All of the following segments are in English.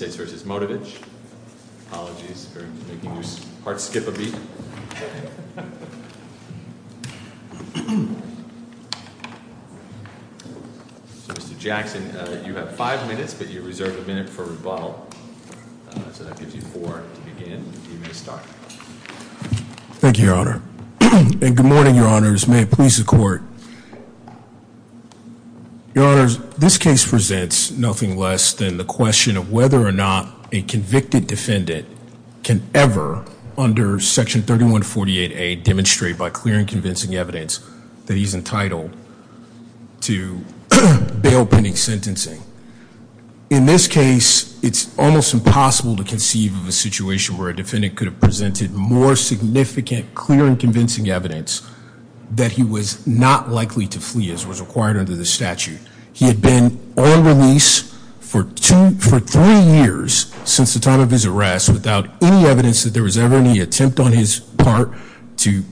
Mr. Jackson, you have five minutes, but you reserve a minute for rebuttal, so that gives you four to begin. You may start. Thank you, Your Honor. And good morning, Your Honors. May it please the Court. Your Honors, this case presents nothing less than the question of whether or not a convicted defendant can ever, under Section 3148A, demonstrate by clear and convincing evidence that he's entitled to bail pending sentencing. In this case, it's almost impossible to conceive of a situation where a defendant could have presented more significant clear and convincing evidence that he was not likely to flee as was required under the statute. He had been on release for three years since the time of his arrest without any evidence that there was ever any attempt on his part to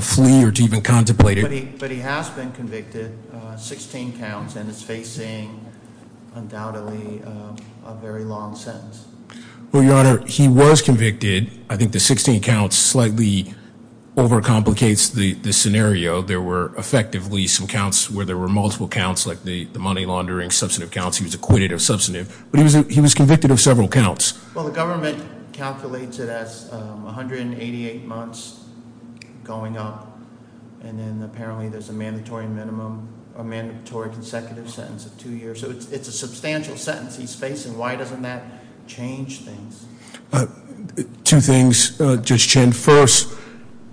flee or to even contemplate it. But he has been convicted, 16 counts, and is facing, undoubtedly, a very long sentence. Well, Your Honor, he was convicted. I think the 16 counts slightly overcomplicates the scenario. There were, effectively, some counts where there were multiple counts, like the money laundering, substantive counts. He was acquitted of substantive. But he was convicted of several counts. Well, the government calculates it as 188 months going up, and then apparently there's a mandatory minimum, a mandatory consecutive sentence of two years. So it's a substantial sentence he's facing. Why doesn't that change things? Two things, Judge Chin. First,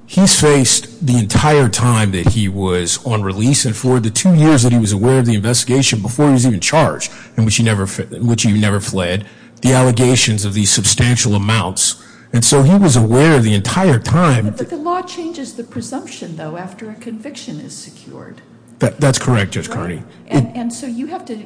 he's faced the entire time that he was on release, and for the two years that he was aware of the investigation before he was even charged, in which he never fled, the allegations of these substantial amounts. And so he was aware the entire time. But the law changes the presumption, though, after a conviction is secured. That's correct, Judge Carney. And so you have to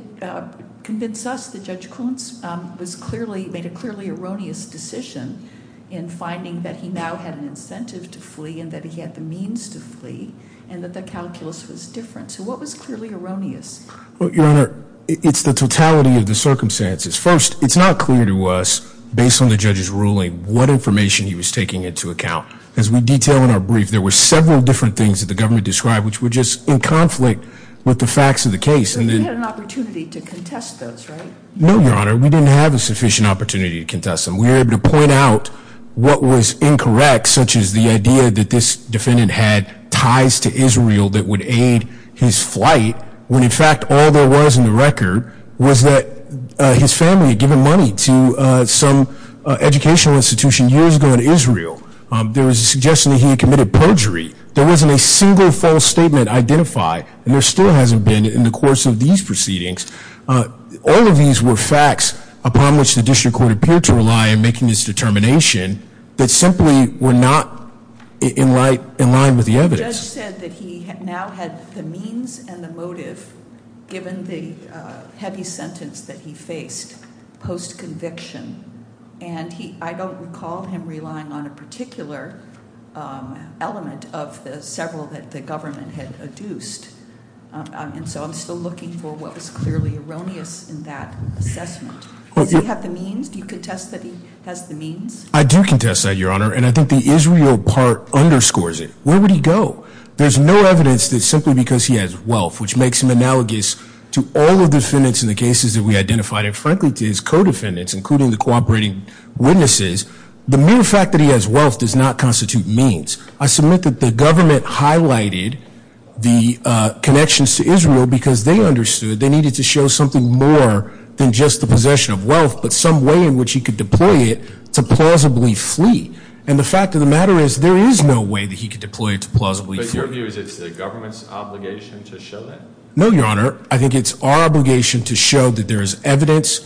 convince us that Judge Kuntz made a clearly erroneous decision in finding that he now had an incentive to flee, and that he had the means to flee, and that the calculus was different. So what was clearly erroneous? Well, Your Honor, it's the totality of the circumstances. First, it's not clear to us, based on the judge's ruling, what information he was taking into account. As we detail in our brief, there were several different things that the government described, which were just in conflict with the facts of the case. So he had an opportunity to contest those, right? No, Your Honor. We didn't have a sufficient opportunity to contest them. We were able to point out what was incorrect, such as the idea that this defendant had ties to Israel that would aid his flight, when, in fact, all there was in the record was that his family had given money to some educational institution years ago in Israel. There was a suggestion that he had committed perjury. There wasn't a single false statement identified, and there still hasn't been in the course of these proceedings. All of these were facts upon which the district court appeared to rely in making this determination that simply were not in line with the evidence. The judge said that he now had the means and the motive, given the heavy sentence that he faced post-conviction, and I don't recall him relying on a particular element of the several that the government had adduced. And so I'm still looking for what was clearly erroneous in that assessment. Does he have the means? Do you contest that he has the means? I do contest that, Your Honor, and I think the Israel part underscores it. Where would he go? There's no evidence that simply because he has wealth, which makes him analogous to all of the defendants in the cases that we identified, and frankly to his co-defendants, including the cooperating witnesses, the mere fact that he has wealth does not constitute means. I submit that the government highlighted the connections to Israel because they understood they needed to show something more than just the possession of wealth, but some way in which he could deploy it to plausibly flee. And the fact of the matter is, there is no way that he could deploy it to plausibly flee. But your view is it's the government's obligation to show that? No, Your Honor. I think it's our obligation to show that there is evidence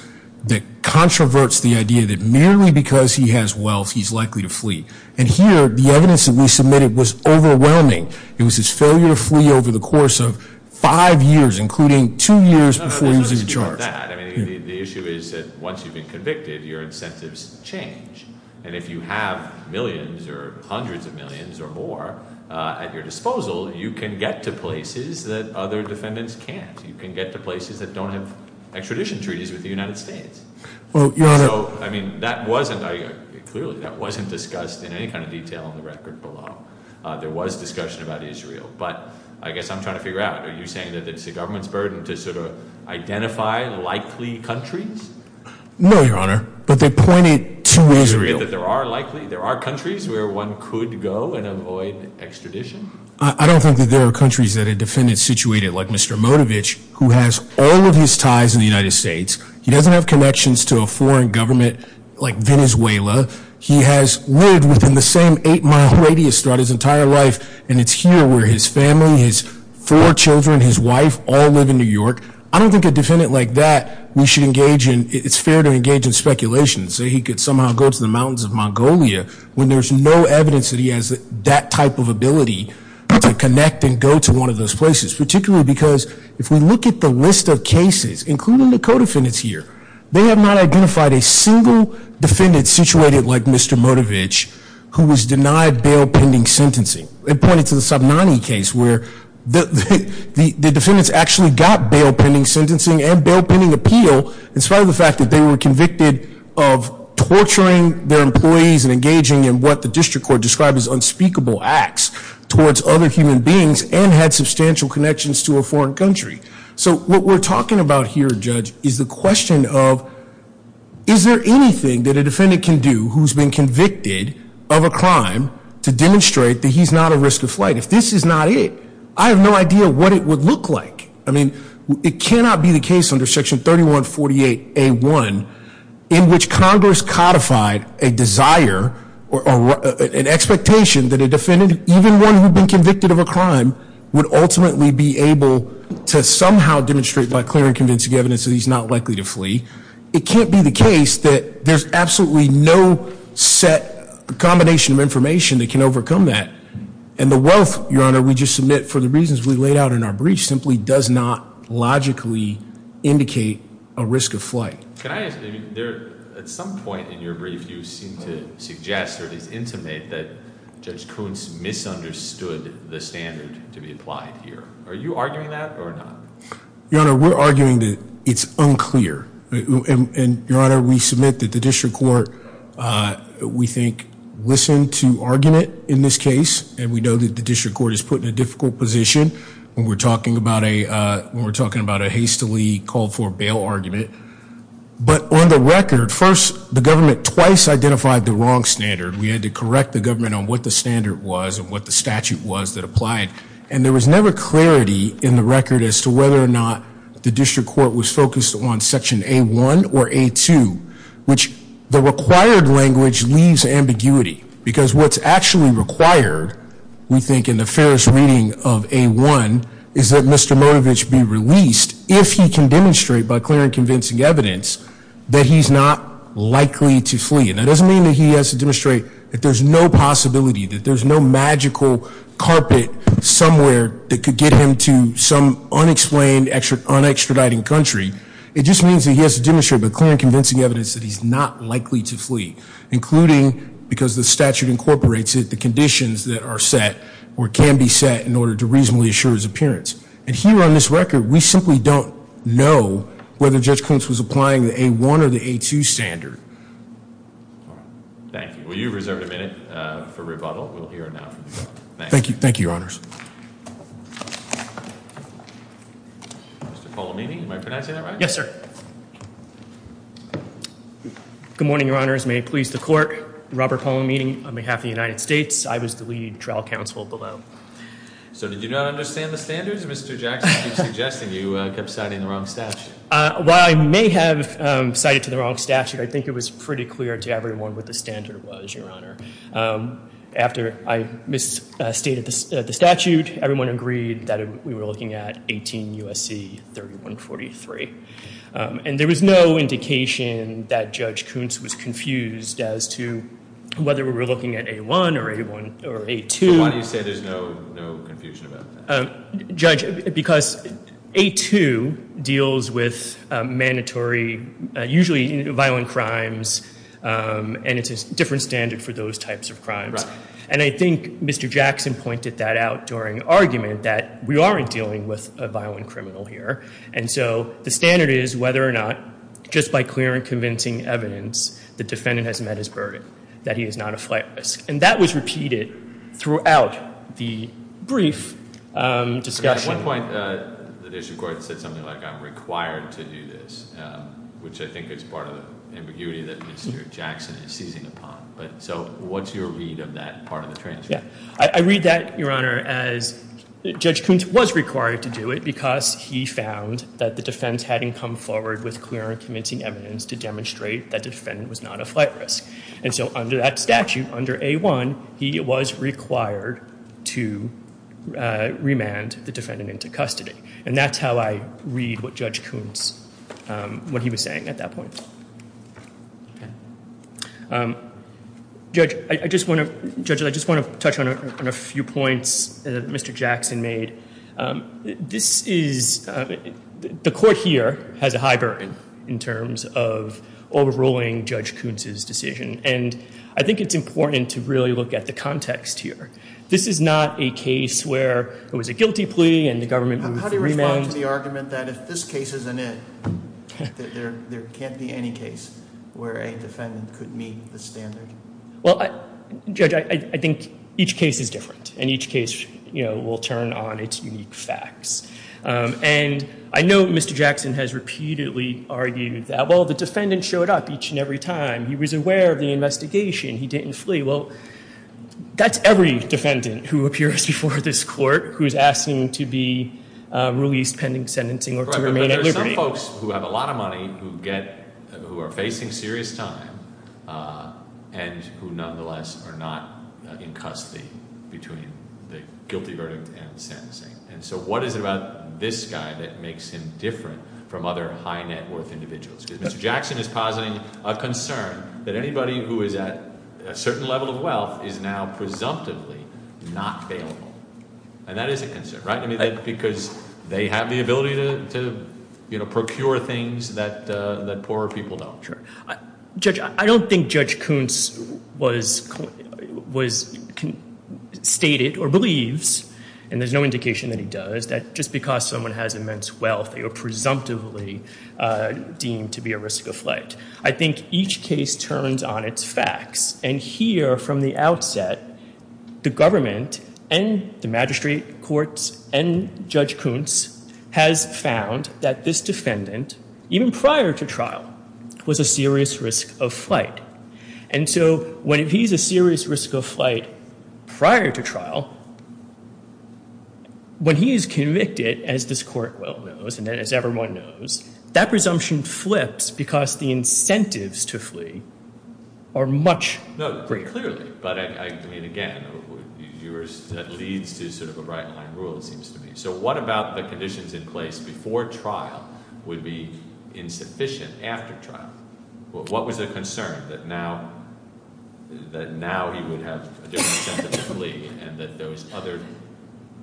that controverts the idea that merely because he has wealth, he's likely to flee. And here, the evidence that we submitted was overwhelming. It was his failure to flee over the course of five years, including two years before he was in charge. No, no, there's no dispute about that. I mean, the issue is that once you've been convicted, your incentives change. And if you have millions or hundreds of millions or more at your disposal, you can get to places that other defendants can't. You can get to places that don't have extradition treaties with the United States. Well, Your Honor. So, I mean, that wasn't, clearly, that wasn't discussed in any kind of detail in the record below. There was discussion about Israel. But I guess I'm trying to figure out, are you saying that it's the government's burden to sort of identify likely countries? No, Your Honor. But they pointed to Israel. Israel, that there are likely, there are countries where one could go and avoid extradition? I don't think that there are countries that a defendant situated, like Mr. Modovich, who has all of his ties in the United States, he doesn't have connections to a foreign government like Venezuela, he has lived within the same eight-mile radius throughout his entire life, and it's here where his family, his four children, his wife, all live in New York. I don't think a defendant like that we should engage in, it's fair to engage in speculation, say he could somehow go to the mountains of Mongolia, when there's no evidence that he has that type of ability to connect and go to one of those places. Particularly because if we look at the list of cases, including the co-defendants here, they have not identified a single defendant situated like Mr. Modovich, who was denied bail pending sentencing. They pointed to the Sabnani case, where the defendants actually got bail pending sentencing and bail pending appeal, in spite of the fact that they were convicted of torturing their employees and engaging in what the district court described as unspeakable acts towards other human beings and had substantial connections to a foreign country. So what we're talking about here, Judge, is the question of, is there anything that a defendant can do who's been convicted of a crime to demonstrate that he's not at risk of flight? If this is not it, I have no idea what it would look like. I mean, it cannot be the case under Section 3148A1 in which Congress codified a desire or an expectation that a defendant, even one who'd been convicted of a crime, would ultimately be able to somehow demonstrate by clear and convincing evidence that he's not likely to flee. It can't be the case that there's absolutely no set combination of information that can overcome that. And the wealth, Your Honor, we just submit for the reasons we laid out in our breach simply does not logically indicate a risk of flight. Can I ask, at some point in your brief, you seem to suggest or at least intimate that Judge Kuntz misunderstood the standard to be applied here. Are you arguing that or not? Your Honor, we're arguing that it's unclear. And, Your Honor, we submit that the district court, we think, listened to argument in this case, and we know that the district court is put in a difficult position when we're talking about a hastily called for bail argument. But on the record, first, the government twice identified the wrong standard. We had to correct the government on what the standard was and what the statute was that applied. And there was never clarity in the record as to whether or not the district court was focused on Section A1 or A2, which the required language leaves ambiguity. Because what's actually required, we think, in the fairest reading of A1 is that Mr. Motovic be released if he can demonstrate by clear and convincing evidence that he's not likely to flee. And that doesn't mean that he has to demonstrate that there's no possibility, that there's no magical carpet somewhere that could get him to some unexplained, un-extraditing country. It just means that he has to demonstrate by clear and convincing evidence that he's not likely to flee, including because the statute incorporates it, the conditions that are set, or can be set, in order to reasonably assure his appearance. And here on this record, we simply don't know whether Judge Klintz was applying the A1 or the A2 standard. Thank you. Well, you've reserved a minute for rebuttal. We'll hear now from you. Thank you. Thank you, Your Honors. Mr. Polamini, am I pronouncing that right? Yes, sir. Good morning, Your Honors. May it please the Court. Robert Polamini, on behalf of the United States. I was the lead trial counsel below. So, did you not understand the standards? Mr. Jackson keeps suggesting you kept citing the wrong statute. While I may have cited to the wrong statute, I think it was pretty clear to everyone what the standard was, Your Honor. After I misstated the statute, everyone agreed that we were looking at 18 U.S.C. 3143. And there was no indication that Judge Klintz was confused as to whether we were looking at A1 or A2. So why do you say there's no confusion about that? Judge, because A2 deals with mandatory, usually violent crimes, and it's a different standard for those types of crimes. And I think Mr. Jackson pointed that out during argument, that we aren't dealing with a violent criminal here. And so the standard is whether or not just by clear and convincing evidence, the defendant has met his burden, that he is not a flat risk. And that was repeated throughout the brief discussion. At one point, the Judicial Court said something like, I'm required to do this, which I think is part of the ambiguity that Mr. Jackson is seizing upon. So what's your read of that part of the transcript? I read that, Your Honor, as Judge Klintz was required to do it because he found that the defense hadn't come forward with clear and convincing evidence to demonstrate that the defendant was not a flat risk. And so under that statute, under A1, he was required to remand the defendant into custody. And that's how I read what Judge Klintz, what he was saying at that point. Judge, I just want to touch on a few points that Mr. Jackson made. This is, the court here has a high burden in terms of overruling Judge Klintz's decision. And I think it's important to really look at the context here. This is not a case where it was a guilty plea and the government remanded. You're making the argument that if this case isn't it, that there can't be any case where a defendant could meet the standard. Well, Judge, I think each case is different. And each case, you know, will turn on its unique facts. And I know Mr. Jackson has repeatedly argued that, well, the defendant showed up each and every time. He was aware of the investigation. He didn't flee. Well, that's every defendant who appears before this court who is asking to be released pending sentencing or to remain at liberty. But there are some folks who have a lot of money who are facing serious time and who nonetheless are not in custody between the guilty verdict and sentencing. And so what is it about this guy that makes him different from other high net worth individuals? Because Mr. Jackson is positing a concern that anybody who is at a certain level of wealth is now presumptively not bailable. And that is a concern, right? Because they have the ability to procure things that poorer people don't. Judge, I don't think Judge Kuntz stated or believes, and there's no indication that he does, that just because someone has immense wealth they are presumptively deemed to be at risk of flight. I think each case turns on its facts. And here from the outset, the government and the magistrate courts and Judge Kuntz has found that this defendant, even prior to trial, was a serious risk of flight. And so when he's a serious risk of flight prior to trial, when he is convicted, as this court well knows and as everyone knows, that presumption flips because the incentives to flee are much greater. No, pretty clearly. But I mean, again, yours leads to sort of a right line rule, it seems to me. So what about the conditions in place before trial would be insufficient after trial? What was the concern that now he would have a different incentive to flee and that those other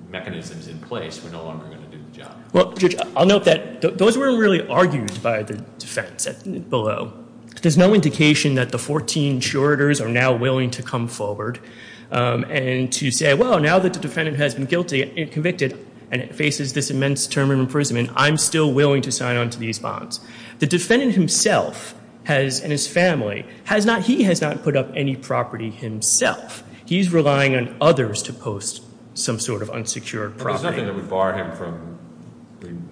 mechanisms in place were no longer going to do the job? Well, Judge, I'll note that those weren't really argued by the defense below. There's no indication that the 14 insurators are now willing to come forward and to say, well, now that the defendant has been guilty and convicted and faces this immense term in imprisonment, I'm still willing to sign on to these bonds. The defendant himself and his family, he has not put up any property himself. He's relying on others to post some sort of unsecured property. So there's nothing that would bar him from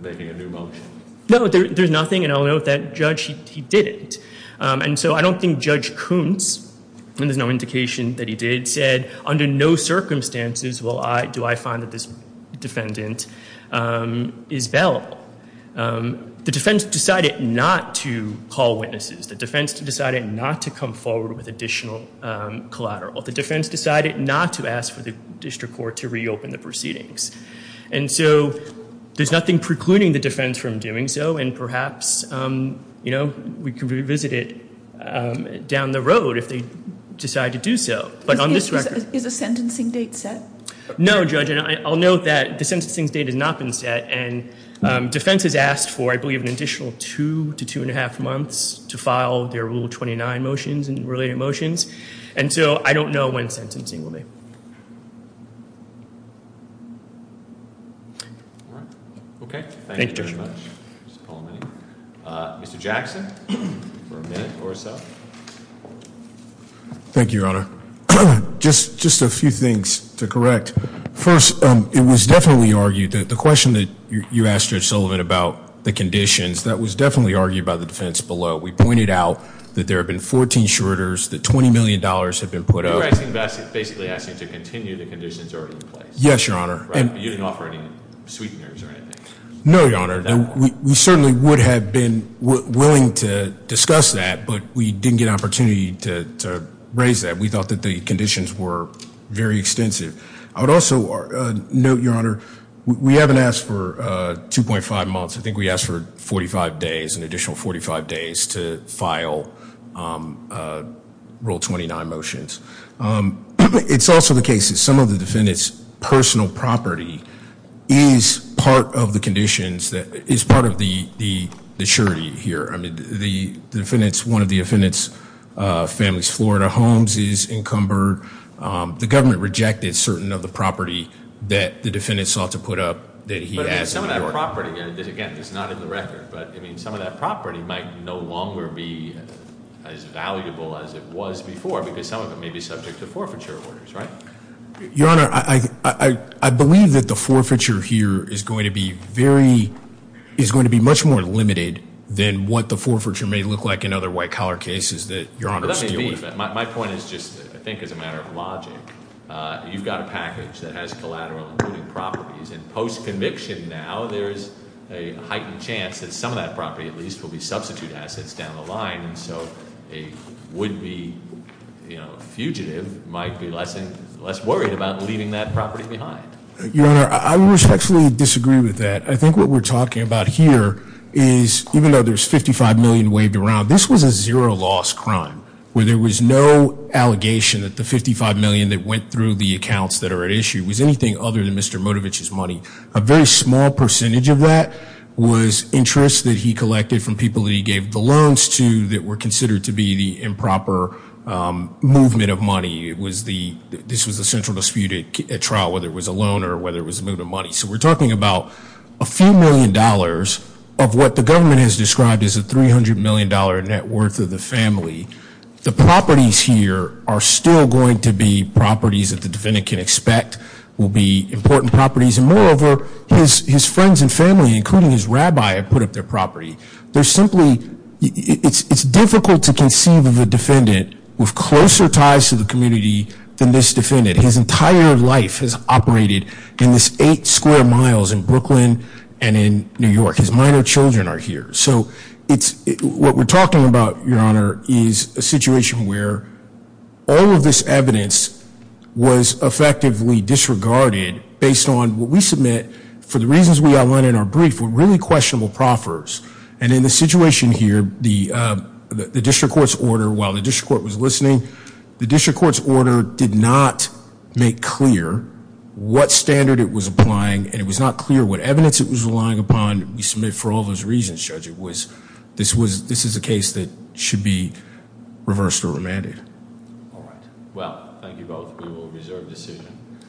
making a new motion? No, there's nothing, and I'll note that Judge, he didn't. And so I don't think Judge Kuntz, and there's no indication that he did, said under no circumstances do I find that this defendant is bailable. The defense decided not to call witnesses. The defense decided not to come forward with additional collateral. The defense decided not to ask for the district court to reopen the proceedings. And so there's nothing precluding the defense from doing so, and perhaps we could revisit it down the road if they decide to do so. Is the sentencing date set? No, Judge, and I'll note that the sentencing date has not been set, and defense has asked for, I believe, an additional two to two and a half months to file their Rule 29 motions and related motions. And so I don't know when sentencing will be. All right. Okay. Thank you very much. Mr. Jackson for a minute or so. Thank you, Your Honor. Just a few things to correct. First, it was definitely argued that the question that you asked Judge Sullivan about the conditions, that was definitely argued by the defense below. We pointed out that there have been 14 shorters, that $20 million have been put up. You're basically asking to continue the conditions already in place. Yes, Your Honor. Right, but you didn't offer any sweeteners or anything. No, Your Honor. We certainly would have been willing to discuss that, but we didn't get an opportunity to raise that. We thought that the conditions were very extensive. I would also note, Your Honor, we haven't asked for 2.5 months. I think we asked for 45 days, an additional 45 days to file Rule 29 motions. It's also the case that some of the defendant's personal property is part of the conditions, is part of the surety here. I mean, one of the defendant's family's Florida homes is encumbered. The government rejected certain of the property that the defendant sought to put up that he has in New York. Some of that property, again, is not in the record. But some of that property might no longer be as valuable as it was before, because some of it may be subject to forfeiture orders, right? Your Honor, I believe that the forfeiture here is going to be much more limited than what the forfeiture may look like in other white-collar cases that Your Honor is dealing with. My point is just, I think, as a matter of logic. You've got a package that has collateral including properties. And post-conviction now, there's a heightened chance that some of that property, at least, will be substitute assets down the line. And so a would-be fugitive might be less worried about leaving that property behind. Your Honor, I respectfully disagree with that. I think what we're talking about here is, even though there's $55 million waved around, this was a zero-loss crime where there was no allegation that the $55 million that went through the accounts that are at issue was anything other than Mr. Motovich's money. A very small percentage of that was interest that he collected from people that he gave the loans to that were considered to be the improper movement of money. This was a central dispute at trial, whether it was a loan or whether it was a movement of money. So we're talking about a few million dollars of what the government has described as a $300 million net worth of the family. The properties here are still going to be properties that the defendant can expect will be important properties. And moreover, his friends and family, including his rabbi, have put up their property. They're simply, it's difficult to conceive of a defendant with closer ties to the community than this defendant. His entire life has operated in this eight square miles in Brooklyn and in New York. His minor children are here. So what we're talking about, Your Honor, is a situation where all of this evidence was effectively disregarded based on what we submit for the reasons we outlined in our brief were really questionable proffers. And in this situation here, the district court's order, while the district court was listening, the district court's order did not make clear what standard it was applying and it was not clear what evidence it was relying upon. We submit for all those reasons, Judge. It was, this was, this is a case that should be reversed or remanded. All right. Well, thank you both. We will reserve decision.